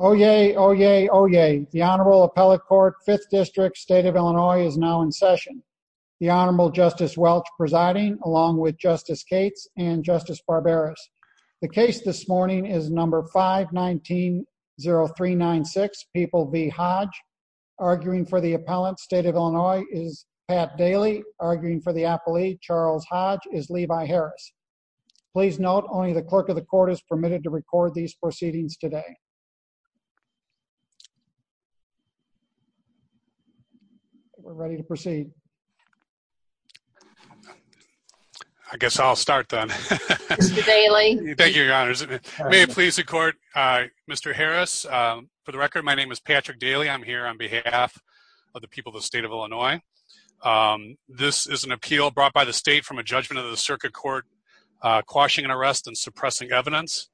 Oh yay, oh yay, oh yay. The Honorable Appellate Court, 5th District, State of Illinois is now in session. The Honorable Justice Welch presiding, along with Justice Cates and Justice Barberas. The case this morning is number 519-0396, People v. Hodge. Arguing for the appellant, State of Illinois, is Pat Daly. Arguing for the appellee, Charles Hodge, is Levi Harris. Please note, only the clerk of the court is permitted to record these proceedings today. We're ready to proceed. I guess I'll start then. Mr. Daly. Thank you, Your Honors. May it please the court, Mr. Harris. For the record, my name is Patrick Daly. I'm here on behalf of the people of the State of Illinois. This is an appeal brought by the state from a judgment of the circuit court, quashing an arrest and suppressing evidence.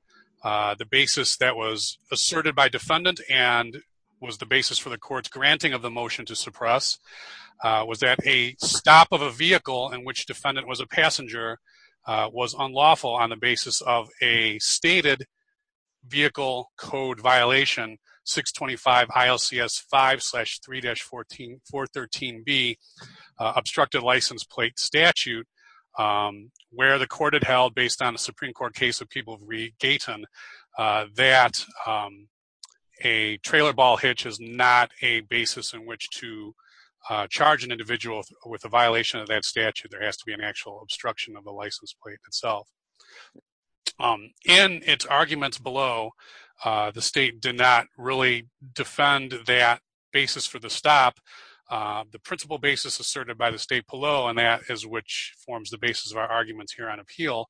The basis that was asserted by defendant and was the basis for the court's granting of the motion to suppress, was that a stop of a vehicle in which defendant was a passenger was unlawful on the basis of a obstructed license plate statute where the court had held, based on the Supreme Court case of People v. Gayton, that a trailer ball hitch is not a basis in which to charge an individual with a violation of that statute. There has to be an actual obstruction of the license plate itself. In its arguments below, the state did not really defend that basis for the stop. The principal basis asserted by the state below, and that is which forms the basis of our arguments here on appeal,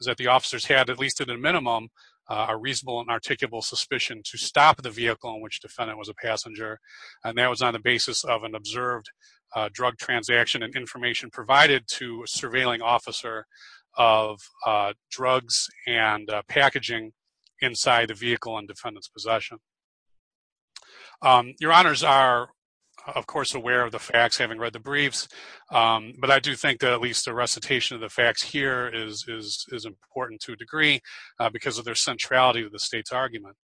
is that the officers had, at least at a minimum, a reasonable and articulable suspicion to stop the vehicle in which defendant was a passenger, and that was on the basis of an observed drug transaction and information provided to a surveilling officer of drugs and packaging inside the vehicle in defendant's possession. Your honors are, of course, aware of the facts, having read the briefs, but I do think that at least the recitation of the facts here is important to a degree because of their centrality with the state's argument.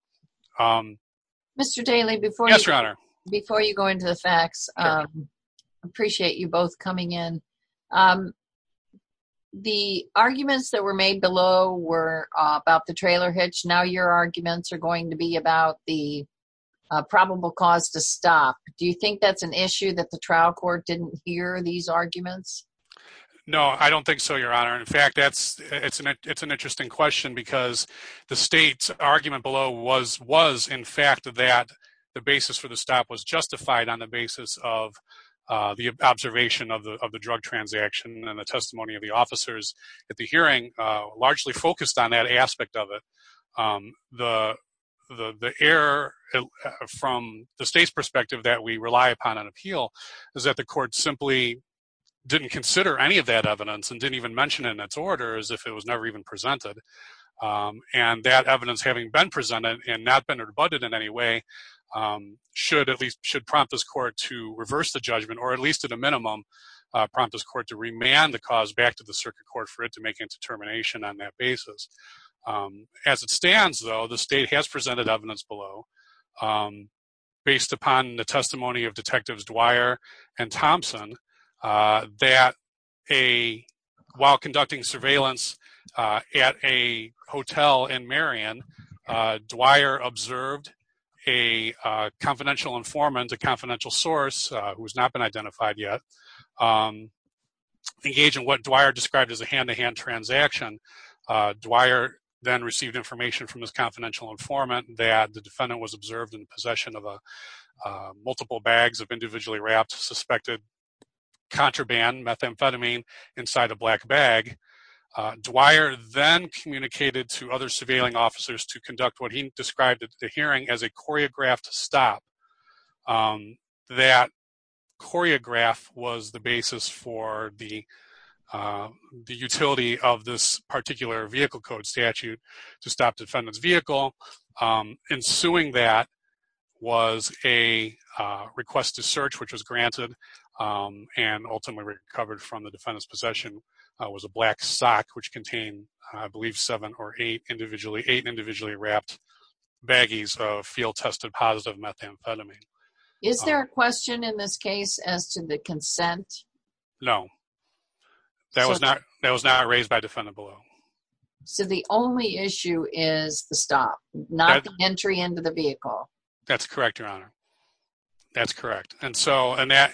Mr. Daley, before you go into the facts, I appreciate you both coming in. The arguments that were made below were about the trailer hitch. Now your arguments are going to be about the probable cause to stop. Do you think that's an issue that the trial court didn't hear these arguments? No, I don't think so, your honor. In fact, it's an interesting question because the state's argument below was, in fact, that the basis for the stop was justified on the basis of the observation of the drug transaction and the testimony of the officers at the hearing largely focused on that aspect of it. The error from the state's perspective that we rely upon on appeal is that the court simply didn't consider any of that evidence and didn't even mention it in its order as if it was never even presented, and that evidence having been presented and not been rebutted in any way should at least should prompt this court to reverse the judgment or at least at a minimum prompt this court to remand the cause back to the circuit court for it to make a determination on that basis. As it stands, though, the state has presented evidence below based upon the testimony of detectives Dwyer and Thompson that while conducting surveillance at a hotel in Marion, Dwyer observed a confidential informant, a confidential source who has not been identified yet, engage in what Dwyer described as a hand-to-hand transaction. Dwyer then received information from his confidential informant that the defendant was observed in possession of multiple bags of individually wrapped suspected contraband methamphetamine inside a black bag. Dwyer then communicated to other surveilling officers to that choreograph was the basis for the utility of this particular vehicle code statute to stop defendant's vehicle. Ensuing that was a request to search which was granted and ultimately recovered from the defendant's possession was a black sock which contained I believe seven or eight individually wrapped baggies of field-tested positive methamphetamine. Is there a question in this case as to the consent? No, that was not raised by defendant below. So the only issue is the stop, not the entry into the vehicle? That's correct, your honor. That's correct. And so on that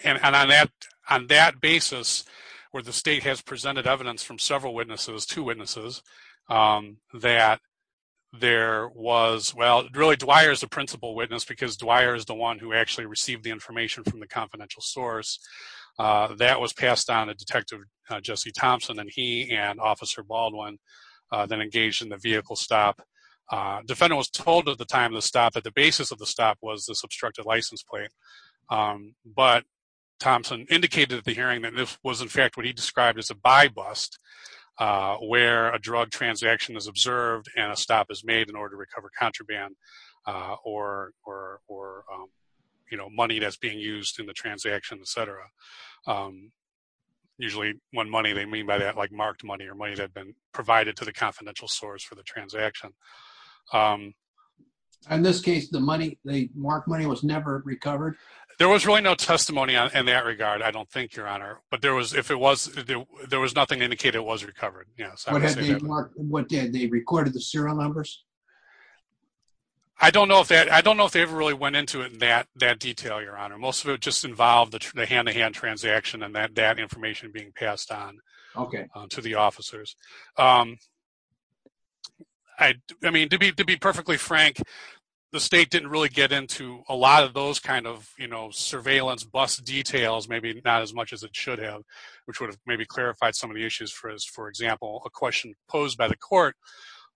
basis where the state has presented evidence from several witnesses, two witnesses, that there was, well, really Dwyer is the principal witness because Dwyer is the one who actually received the information from the confidential source. That was passed on to Detective Jesse Thompson and he and Officer Baldwin then engaged in the vehicle stop. Defendant was told at the time of the stop that the basis of the stop was this obstructed license plate, but Thompson indicated at the hearing that this was in fact what he described as a buy bust where a drug transaction is observed and a stop is made in or money that's being used in the transaction, etc. Usually when money, they mean by that like marked money or money that had been provided to the confidential source for the transaction. In this case, the money, the marked money was never recovered? There was really no testimony in that regard, I don't think, your honor, but there was, if it was, there was nothing to indicate it was recovered, yes. What did they record, the serial numbers? I don't know if that, I don't know if they ever really went into it in that detail, your honor. Most of it just involved the hand-to-hand transaction and that that information being passed on to the officers. I mean, to be perfectly frank, the state didn't really get into a lot of those kind of, you know, surveillance bust details, maybe not as much as it should have, which would have maybe clarified some of the issues for us. A question posed by the court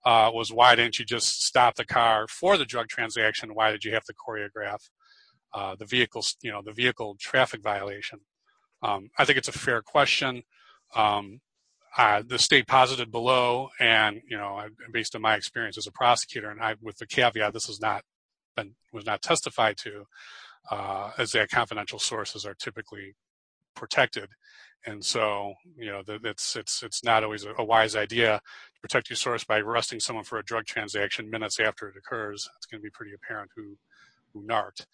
was why didn't you just stop the car for the drug transaction? Why did you have to choreograph the vehicle, you know, the vehicle traffic violation? I think it's a fair question. The state posited below and, you know, based on my experience as a prosecutor and I, with the caveat, this is not, was not testified to as that confidential sources are typically protected. And so, you know, it's not always a wise idea to protect your source by arresting someone for a drug transaction minutes after it occurs. It's going to be pretty apparent who narked.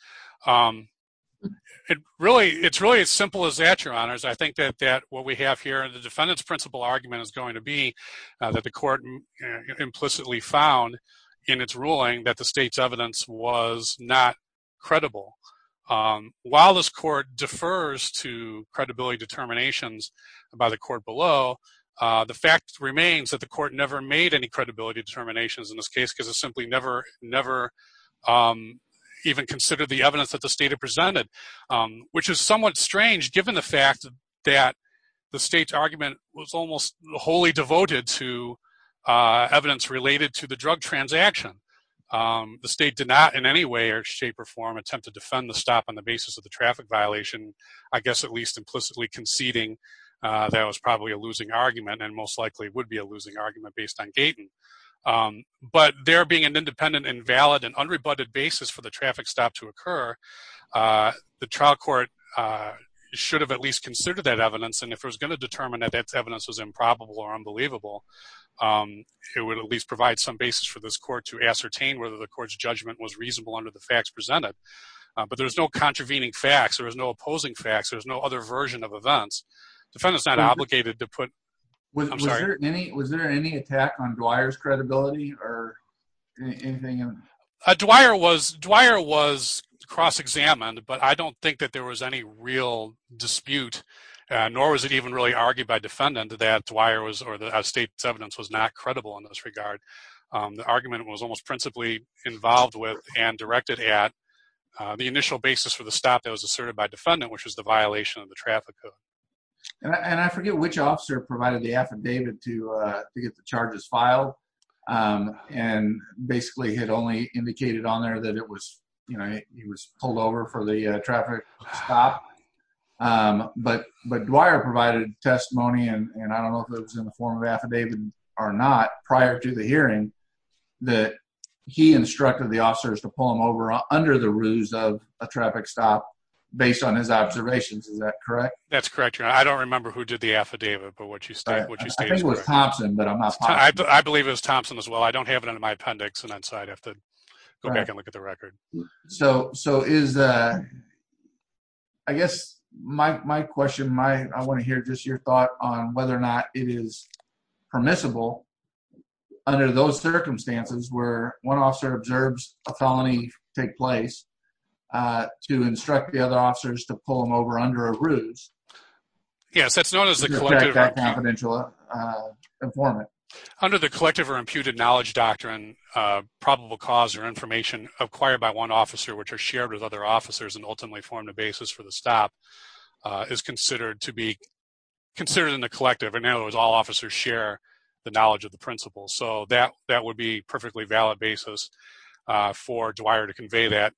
It really, it's really as simple as that, your honors. I think that what we have here, the defendant's principal argument is going to be that the court implicitly found in its ruling that the state's evidence was not credible. While this court defers to credibility determinations by the court below, the fact remains that the court never made any credibility determinations in this case because it simply never, never even considered the evidence that the state had presented, which is somewhat strange given the fact that the state's argument was almost wholly devoted to evidence related to drug transaction. The state did not in any way or shape or form attempt to defend the stop on the basis of the traffic violation, I guess, at least implicitly conceding that was probably a losing argument and most likely would be a losing argument based on Gaten. But there being an independent and valid and unrebutted basis for the traffic stop to occur, the trial court should have at least considered that evidence. And if it was going to determine that that evidence was improbable or unbelievable, it would at least provide some basis for this court to ascertain whether the court's judgment was reasonable under the facts presented. But there's no contravening facts, there is no opposing facts, there's no other version of events. Defendant's not obligated to put... I'm sorry. Was there any attack on Dwyer's credibility or anything? Dwyer was cross-examined, but I don't think that there was any real dispute, nor was it even really asserted by defendant that Dwyer's evidence was not credible in this regard. The argument was almost principally involved with and directed at the initial basis for the stop that was asserted by defendant, which was the violation of the traffic code. And I forget which officer provided the affidavit to get the charges filed, and basically had only indicated on there that he was pulled over for the traffic stop. But Dwyer provided testimony, and I don't know if it was in the form of affidavit or not, prior to the hearing, that he instructed the officers to pull him over under the ruse of a traffic stop based on his observations. Is that correct? That's correct, Your Honor. I don't remember who did the affidavit, but what you stated is correct. I think it was Thompson, but I'm not positive. I believe it was Thompson as well. I don't have it under my appendix, and I'd have to go back and look at the record. So, I guess my question, I want to hear just your thought on whether or not it is permissible under those circumstances where one officer observes a felony take place to instruct the other officers to pull him over under a ruse? Yes, that's known as the collective or imputed knowledge doctrine, probable cause or information acquired by one officer which are shared with other officers and ultimately form the basis for the stop is considered to be considered in the collective. In other words, all officers share the knowledge of the principles. So, that would be a perfectly valid basis for Dwyer to convey that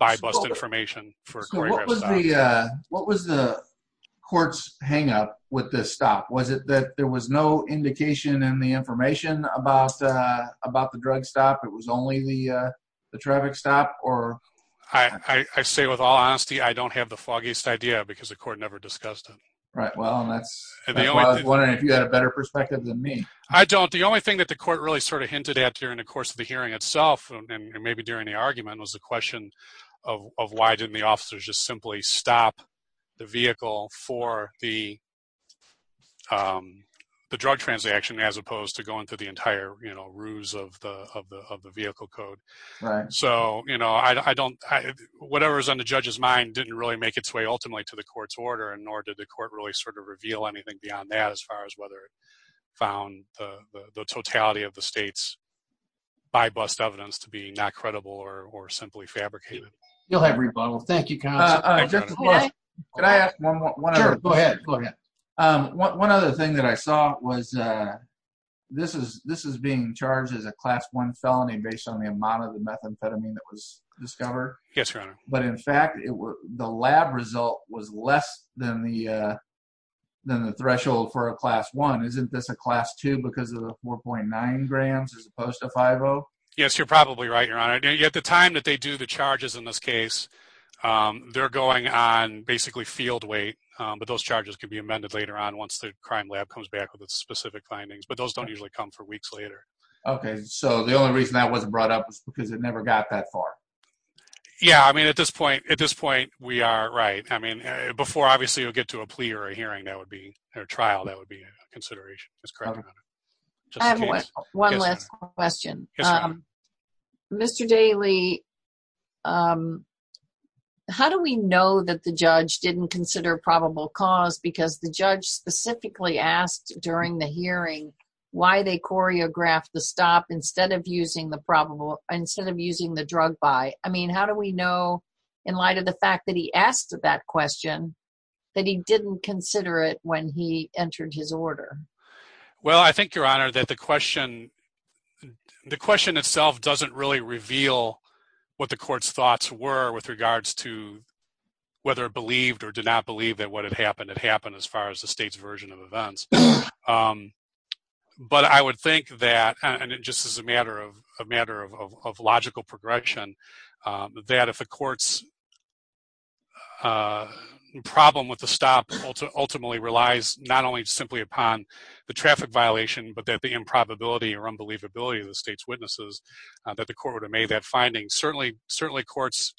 bypassed information. What was the court's hang-up with this stop? Was it that there was no indication in the traffic stop? I say with all honesty, I don't have the foggiest idea because the court never discussed it. Right. Well, that's why I was wondering if you had a better perspective than me. I don't. The only thing that the court really sort of hinted at during the course of the hearing itself and maybe during the argument was the question of why didn't the officers just simply stop the vehicle for the drug transaction as opposed to going through the entire ruse of the vehicle code. So, you know, whatever is on the judge's mind didn't really make its way ultimately to the court's order and nor did the court really sort of reveal anything beyond that as far as whether it found the totality of the state's bypassed evidence to be not credible or simply fabricated. You'll have rebuttal. Thank you. Can I ask one more? Sure, go ahead. One other thing that I saw was this is being charged as a class one felony based on the methamphetamine that was discovered. Yes, Your Honor. But in fact, the lab result was less than the threshold for a class one. Isn't this a class two because of the 4.9 grams as opposed to 5.0? Yes, you're probably right, Your Honor. At the time that they do the charges in this case, they're going on basically field weight, but those charges can be amended later on once the crime lab comes back with its specific findings, but those don't usually come for weeks later. Okay, so the only reason that wasn't brought up was because it never got that far. Yeah, I mean, at this point, we are right. I mean, before obviously, you'll get to a plea or a hearing, that would be a trial, that would be a consideration. I have one last question. Mr. Daly, how do we know that the judge didn't consider probable cause because the judge specifically asked during the hearing why they choreographed the stop instead of using the drug buy? I mean, how do we know in light of the fact that he asked that question, that he didn't consider it when he entered his order? Well, I think, Your Honor, that the question itself doesn't really reveal what the court's thoughts were with regards to whether it believed or did not believe that what happened had happened as far as the state's version of events. But I would think that, and just as a matter of logical progression, that if the court's problem with the stop ultimately relies not only simply upon the traffic violation, but that the improbability or unbelievability of the state's witnesses, that the court would have made that certainly courts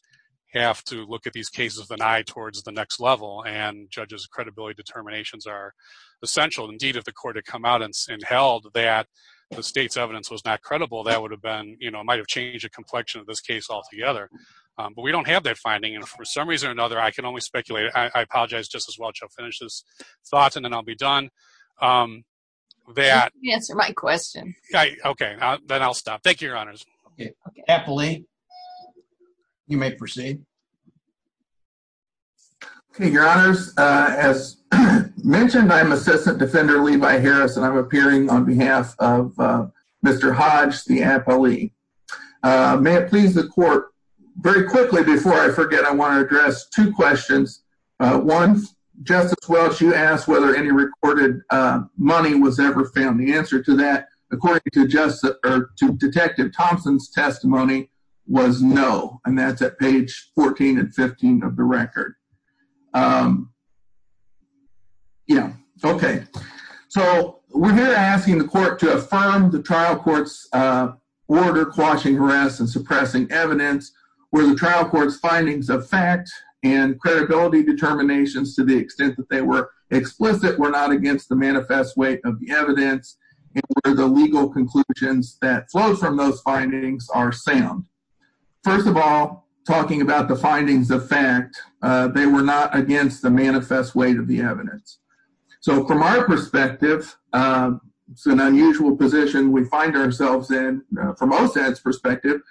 have to look at these cases with an eye towards the next level, and judges' credibility determinations are essential. Indeed, if the court had come out and held that the state's evidence was not credible, that might have changed the complexion of this case altogether. But we don't have that finding, and for some reason or another, I can only speculate. I apologize just as well. I'll finish this thought, and then I'll be done. Answer my question. Okay, then I'll stop. Thank you, Your Honors. Okay. Apolli, you may proceed. Okay, Your Honors. As mentioned, I'm Assistant Defender Levi Harris, and I'm appearing on behalf of Mr. Hodge, the apolli. May it please the court, very quickly, before I forget, I want to address two questions. One, Justice Welch, you asked whether any recorded money was ever found. The testimony was no, and that's at page 14 and 15 of the record. Yeah, okay. So we're here asking the court to affirm the trial court's order quashing harass and suppressing evidence, where the trial court's findings of fact and credibility determinations, to the extent that they were explicit, were not against the manifest weight of the evidence, and where the legal conclusions that flow from those findings are sound. First of all, talking about the findings of fact, they were not against the manifest weight of the evidence. So from our perspective, it's an unusual position we find ourselves in, from OSAD's perspective,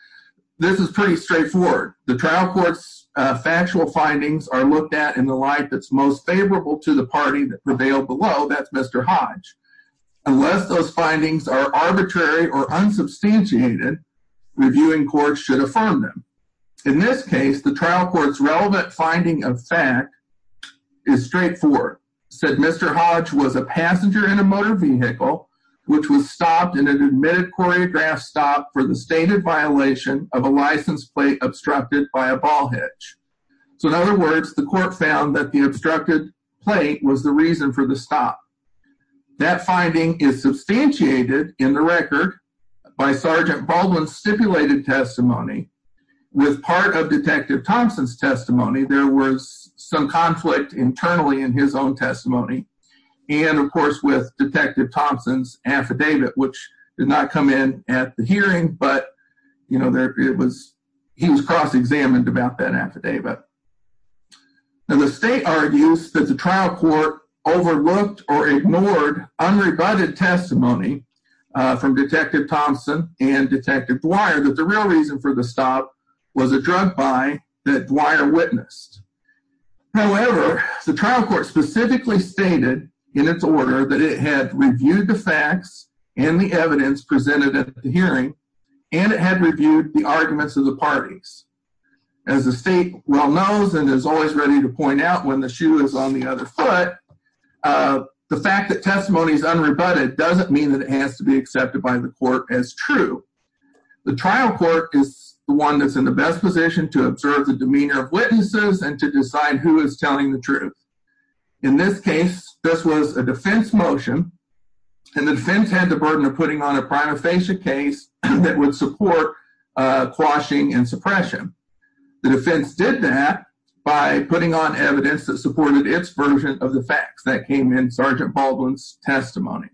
this is pretty straightforward. The trial court's factual findings are looked at in the light that's most favorable to the party that prevailed below, that's Mr. Hodge. Unless those findings are arbitrary or unsubstantiated, reviewing courts should affirm them. In this case, the trial court's relevant finding of fact is straightforward, said Mr. Hodge was a passenger in a motor vehicle, which was stopped in an admitted choreographed stop for the stated violation of a license plate obstructed by a That finding is substantiated in the record by Sergeant Baldwin's stipulated testimony, with part of Detective Thompson's testimony, there was some conflict internally in his own testimony, and of course, with Detective Thompson's affidavit, which did not come in at the hearing, but, you know, he was cross-examined about that affidavit. Now, the state argues that the trial court overlooked or ignored unrebutted testimony from Detective Thompson and Detective Dwyer that the real reason for the stop was a drug buy that Dwyer witnessed. However, the trial court specifically stated in its order that it had reviewed the facts and the evidence presented at the hearing, and it had reviewed the arguments of the parties. As the state well knows, and is always ready to point out when the shoe is on the other foot, the fact that testimony is unrebutted doesn't mean that it has to be accepted by the court as true. The trial court is the one that's in the best position to observe the demeanor of witnesses and to decide who is telling the truth. In this case, this was a defense motion, and the defense had the burden of putting on a prima facie case that would support quashing and suppression. The defense did that by putting on evidence that supported its version of the facts that came in Sergeant Baldwin's testimony.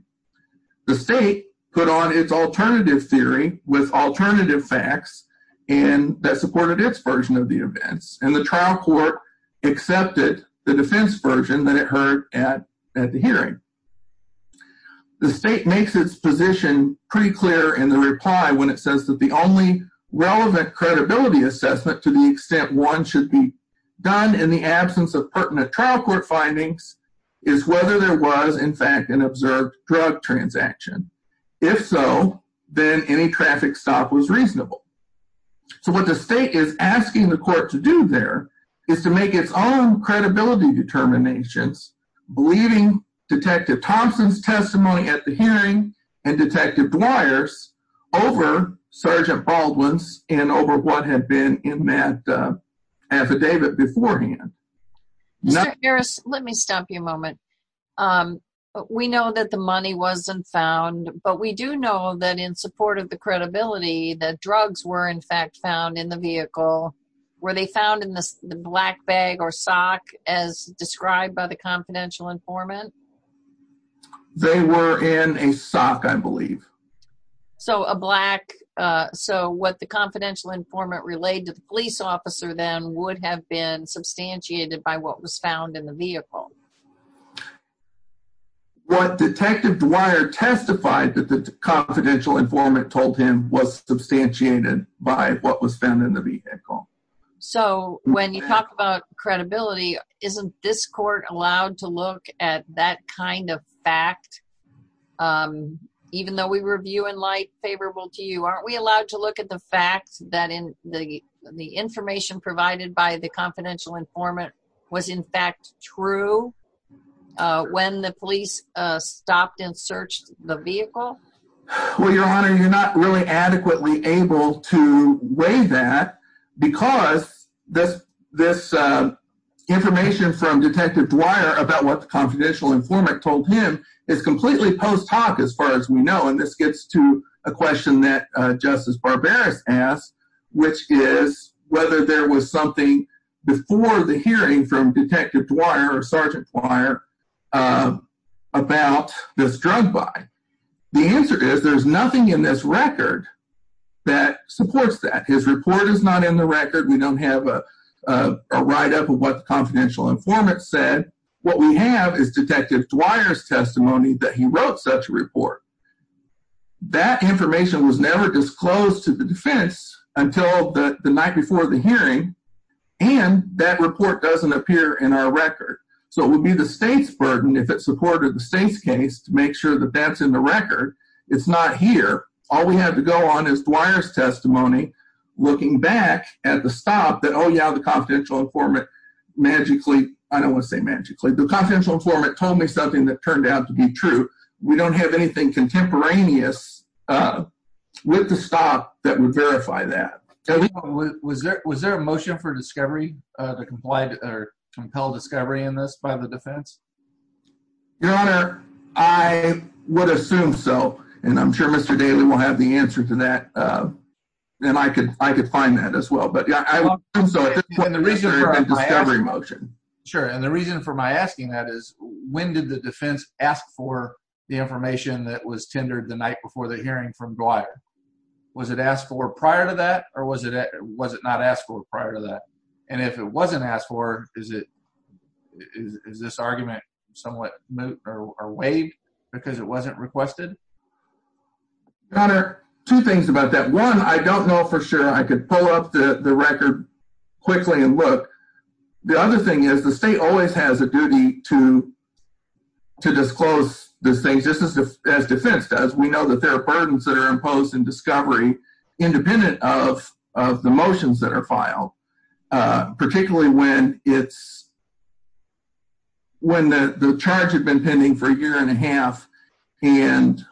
The state put on its alternative theory with alternative facts that supported its version of the events, and the trial court accepted the defense version that it heard at the hearing. The state makes its position pretty clear in the reply when it says that the only relevant credibility assessment to the extent one should be done in the absence of pertinent trial court findings is whether there was, in fact, an observed drug transaction. If so, then any traffic stop was reasonable. So what the state is asking the court to do there is to make its own credibility determinations, believing Detective Thompson's testimony at the hearing and Detective Dwyer's over Sergeant Baldwin's and over what had been in that affidavit beforehand. Mr. Harris, let me stop you a moment. We know that the money wasn't found, but we do know that in support of the credibility that drugs were, in fact, found in the vehicle, were they found in the black bag or sock as described by the confidential informant? They were in a sock, I believe. So what the confidential informant relayed to the police officer then would have been substantiated by what was found in the vehicle? What Detective Dwyer testified that the confidential informant told him was substantiated by what was found in the vehicle. So when you talk about credibility, isn't this court allowed to look at that kind of fact, even though we were viewing light favorable to you? Aren't we allowed to look at the fact that the information provided by the confidential informant was, in fact, true when the police stopped and searched the vehicle? Well, Your Honor, you're not really adequately able to weigh that because this information from Detective Dwyer about what the confidential informant told him is completely post hoc as far as we know. And this gets to a question that Justice Barbaros asked, which is whether there was something before the hearing from Detective Dwyer or Sergeant Dwyer about this drug buy. The answer is there's nothing in this record that supports that. His report is not in the record. We don't have a write-up of what the confidential informant said. What we have is Detective Dwyer's testimony that he wrote such a report. That information was never disclosed to the defense until the night before the hearing, and that report doesn't appear in our record. So it would be the state's burden if it supported the state's case to make sure that that's in the record. It's not here. All we have to go on is Dwyer's testimony looking back at the stop that, oh yeah, the confidential informant magically—I don't want to say magically—the confidential informant told me something that turned out to be true. We don't have anything contemporaneous with the stop that would verify that. Was there a motion for discovery, to comply or compel discovery in this by the defense? Your Honor, I would assume so, and I'm sure Mr. Daly will have the answer to that, and I could find that as well. Sure, and the reason for my asking that is when did the defense ask for the information that was tendered the night before the hearing from Dwyer? Was it asked for prior to that, or was it not asked for prior to that? And if it wasn't asked for, is this argument somewhat waived because it wasn't requested? Your Honor, two things about that. One, I don't know for sure. I could pull up the record quickly and look. The other thing is the state always has a duty to disclose these things, just as defense does. We know that there are burdens that are imposed in discovery independent of the motions that are filed, particularly when the charge had been pending for a year and a half, and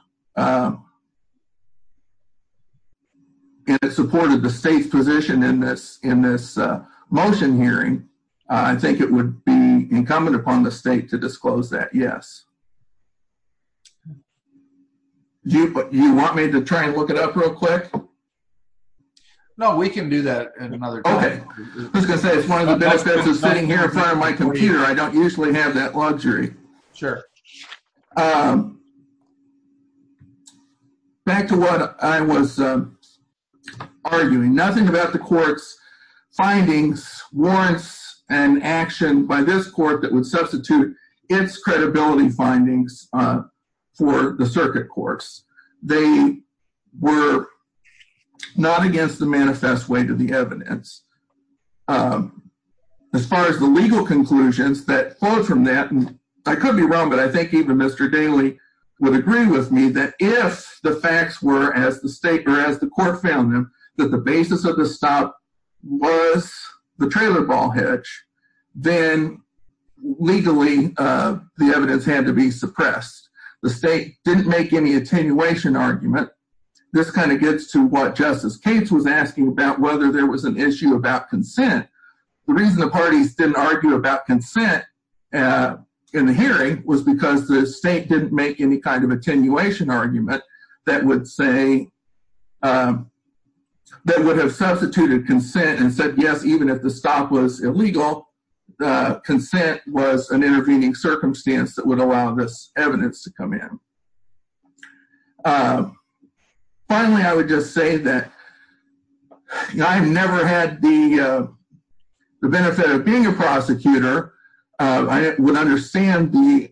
it supported the state's position in this motion hearing. I think it would be incumbent upon the state to disclose that, yes. Do you want me to try and look it up real quick? No, we can do that in another time. Okay, I was going to say, it's one of the benefits of sitting here in front of my computer. I don't usually have that luxury. Sure. Back to what I was arguing. Nothing about the court's findings warrants an action by this court that would substitute its credibility findings for the circuit court's. They were not against the manifest way to the evidence. As far as the legal conclusions that flowed from that, I could be wrong, but I think even Mr. Daly would agree with me that if the facts were as the state found them that the basis of the stop was the trailer ball hedge, then legally the evidence had to be suppressed. The state didn't make any attenuation argument. This kind of gets to what Justice Cates was asking about whether there was an issue about consent. The reason the parties didn't argue about consent in the hearing was because the state didn't make any kind of attenuation argument that would say, that would have substituted consent and said yes, even if the stop was illegal, the consent was an intervening circumstance that would allow this evidence to come in. Finally, I would just say that I've never had the benefit of being a prosecutor. I would understand the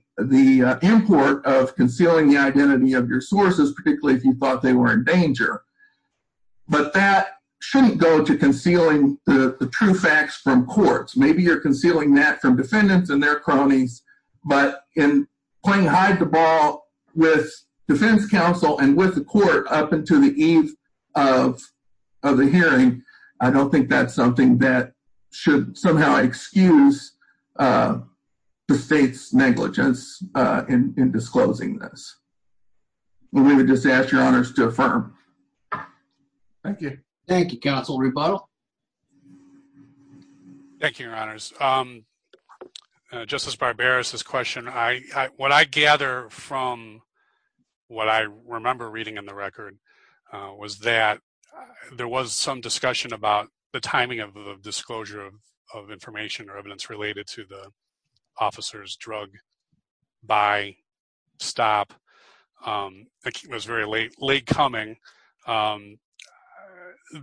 import of concealing the identity of your sources, particularly if you thought they were in danger, but that shouldn't go to concealing the true facts from courts. Maybe you're concealing that from defendants and their cronies, but in playing hide the ball with defense counsel and with the court up into the eve of the hearing, I don't think that's something that should somehow excuse the state's negligence in disclosing this. We would just ask your honors to affirm. Thank you. Thank you, Counsel Rebuttal. Thank you, your honors. Justice Barberis' question, what I gather from what I remember reading in the record was that there was some discussion about the timing of the disclosure of information or evidence related to the officer's drug buy stop. It was very late coming.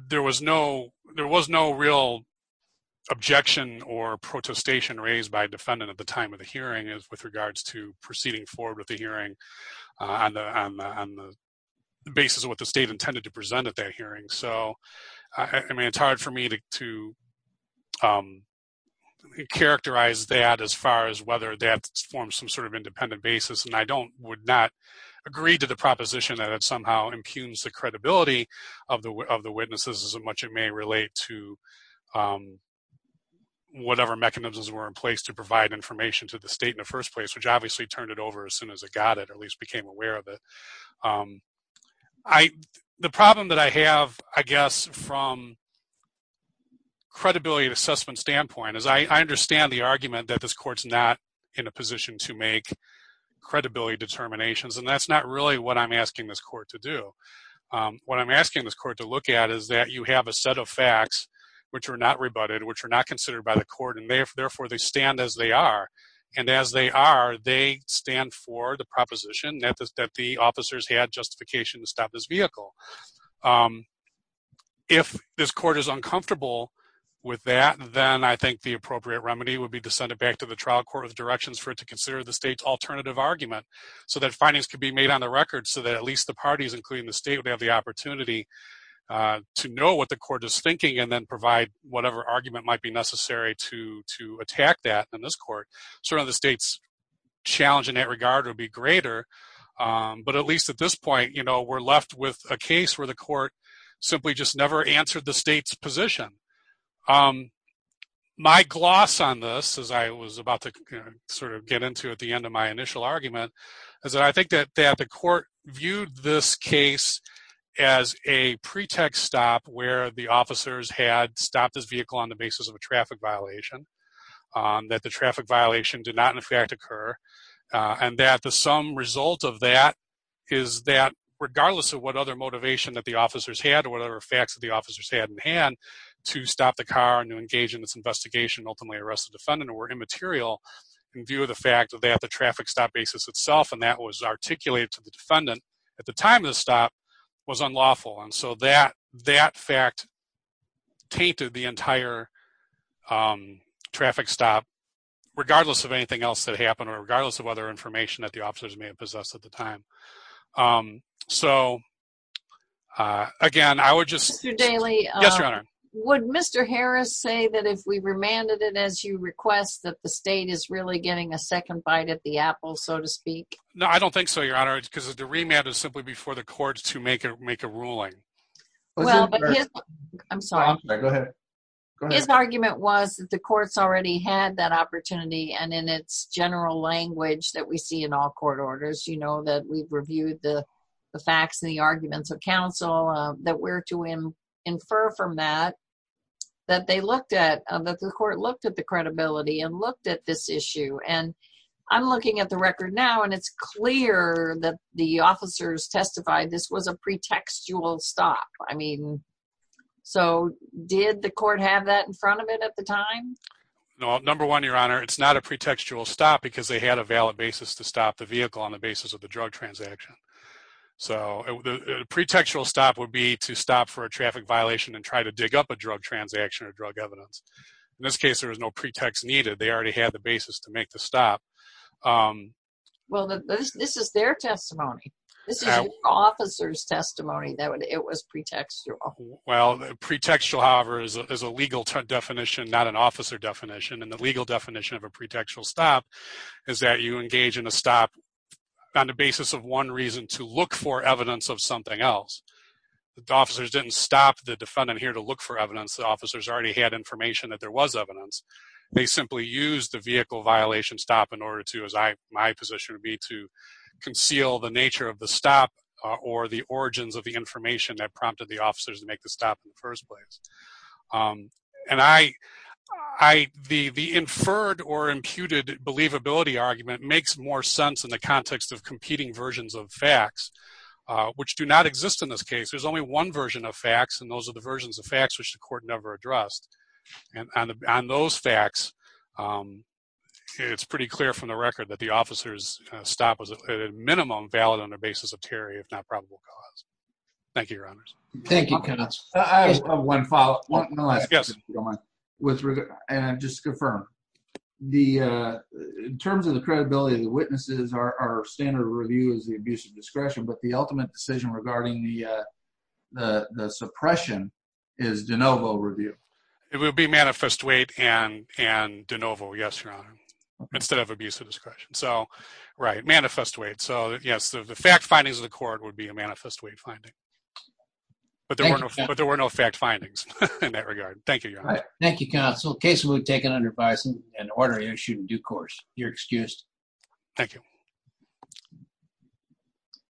There was no real objection or protestation raised by a defendant at the time of the hearing with regards to proceeding forward with the hearing on the basis of what the state intended to present at that hearing. It's hard for me to characterize that as far as whether that forms some sort of independent basis. I would not agree to the proposition that it somehow impugns the credibility of the witnesses as much as it may relate to whatever mechanisms were in place to provide information to the state in the first place, which obviously turned it over as soon as it got it or at least became aware of it. The problem that I have, I guess, from credibility assessment standpoint is I understand the argument that this court's not in a position to make credibility determinations. That's not really what I'm asking this court to do. What I'm asking this court to look at is that you have a set of facts which are not rebutted, which are not considered by the court, and therefore they stand as they are. As they are, they stand for the proposition that the officers had justification to stop this vehicle. If this court is uncomfortable with that, then I think the appropriate remedy would be to send it back to the trial court with directions for it to consider the state's alternative argument so that findings could be made on the record so that at least the parties, including the state, would have the opportunity to know what the court is thinking and then provide whatever argument might be necessary to attack that in this court. Certainly, the state's challenge in that regard would be greater, but at least at this point, we're left with a case where the court simply just never answered the state's position. My gloss on this, as I was about to get into at the end of my initial argument, is that I think that the court viewed this case as a pretext stop where the officers had stopped this vehicle on the basis of a traffic violation, that the traffic violation did not, in fact, occur, and that the sum result of that is that regardless of what other motivation that the officers had or whatever facts that the officers had in hand to stop the car and to engage in this investigation and ultimately arrest the defendant were immaterial in view of the fact that the traffic stop basis itself, and that was articulated to the defendant at the time of the stop, was unlawful. And so, that fact tainted the entire traffic stop regardless of anything else that happened or regardless of other information that the officers may have possessed at the time. So, again, I would just... Mr. Daley... Yes, Your Honor. Would Mr. Harris say that if we remanded it as you request that the state is really getting a second bite at the apple, so to speak? No, I don't think so, Your Honor, because the remand is simply before the courts to make a ruling. Well, but his... I'm sorry. Go ahead. His argument was that the courts already had that opportunity and in its general language that we see in all court orders, you know, that we've reviewed the facts and the arguments of counsel, that we're to infer from that that they looked at, that the court looked at the credibility and looked at this issue. And I'm looking at the record now and it's clear that the officers testified this was a pretextual stop. I mean, so did the court have that in front of it at the time? No. Number one, Your Honor, it's not a pretextual stop because they had a valid basis to stop the vehicle on the basis of the drug transaction. So, a pretextual stop would be to stop for a traffic violation and try to dig up a drug transaction or drug evidence. In this case, there was no pretext needed. They already had the basis to make the stop. Well, this is their testimony. This is an officer's testimony that it was pretextual. Well, pretextual, however, is a legal definition, not an officer definition. And the legal definition of a pretextual stop is that you engage in a stop on the basis of one reason, to look for evidence of something else. The officers didn't stop the defendant here to look for evidence. The officers already had information that there was evidence. They simply used the vehicle violation stop in order to, as my position would be, to conceal the nature of the stop or the origins of the information that prompted the officers to make the stop in the first place. And the inferred or imputed believability argument makes more sense in the context of competing versions of facts, which do not exist in this case. There's only one version of facts, and those are the versions of facts which the court never addressed. And on those facts, it's pretty clear from the record that the officer's stop was, at a minimum, valid on the basis of terror, if not probable cause. Thank you, Your Honors. Thank you, Kenneth. I just have one follow-up, one last question, if you don't mind, with regard, and just to confirm. In terms of the credibility of the witnesses, our standard review is the abuse of discretion, but the ultimate decision regarding the suppression is de novo review. It would be manifest weight and de novo, yes, Your Honor, instead of abuse of discretion. So, right, manifest weight. So, yes, the fact findings of the court would be a manifest weight finding. But there were no fact findings in that regard. Thank you, Your Honor. Thank you, Counsel. The case will be taken under bias and order issued in due course. You're excused. Thank you.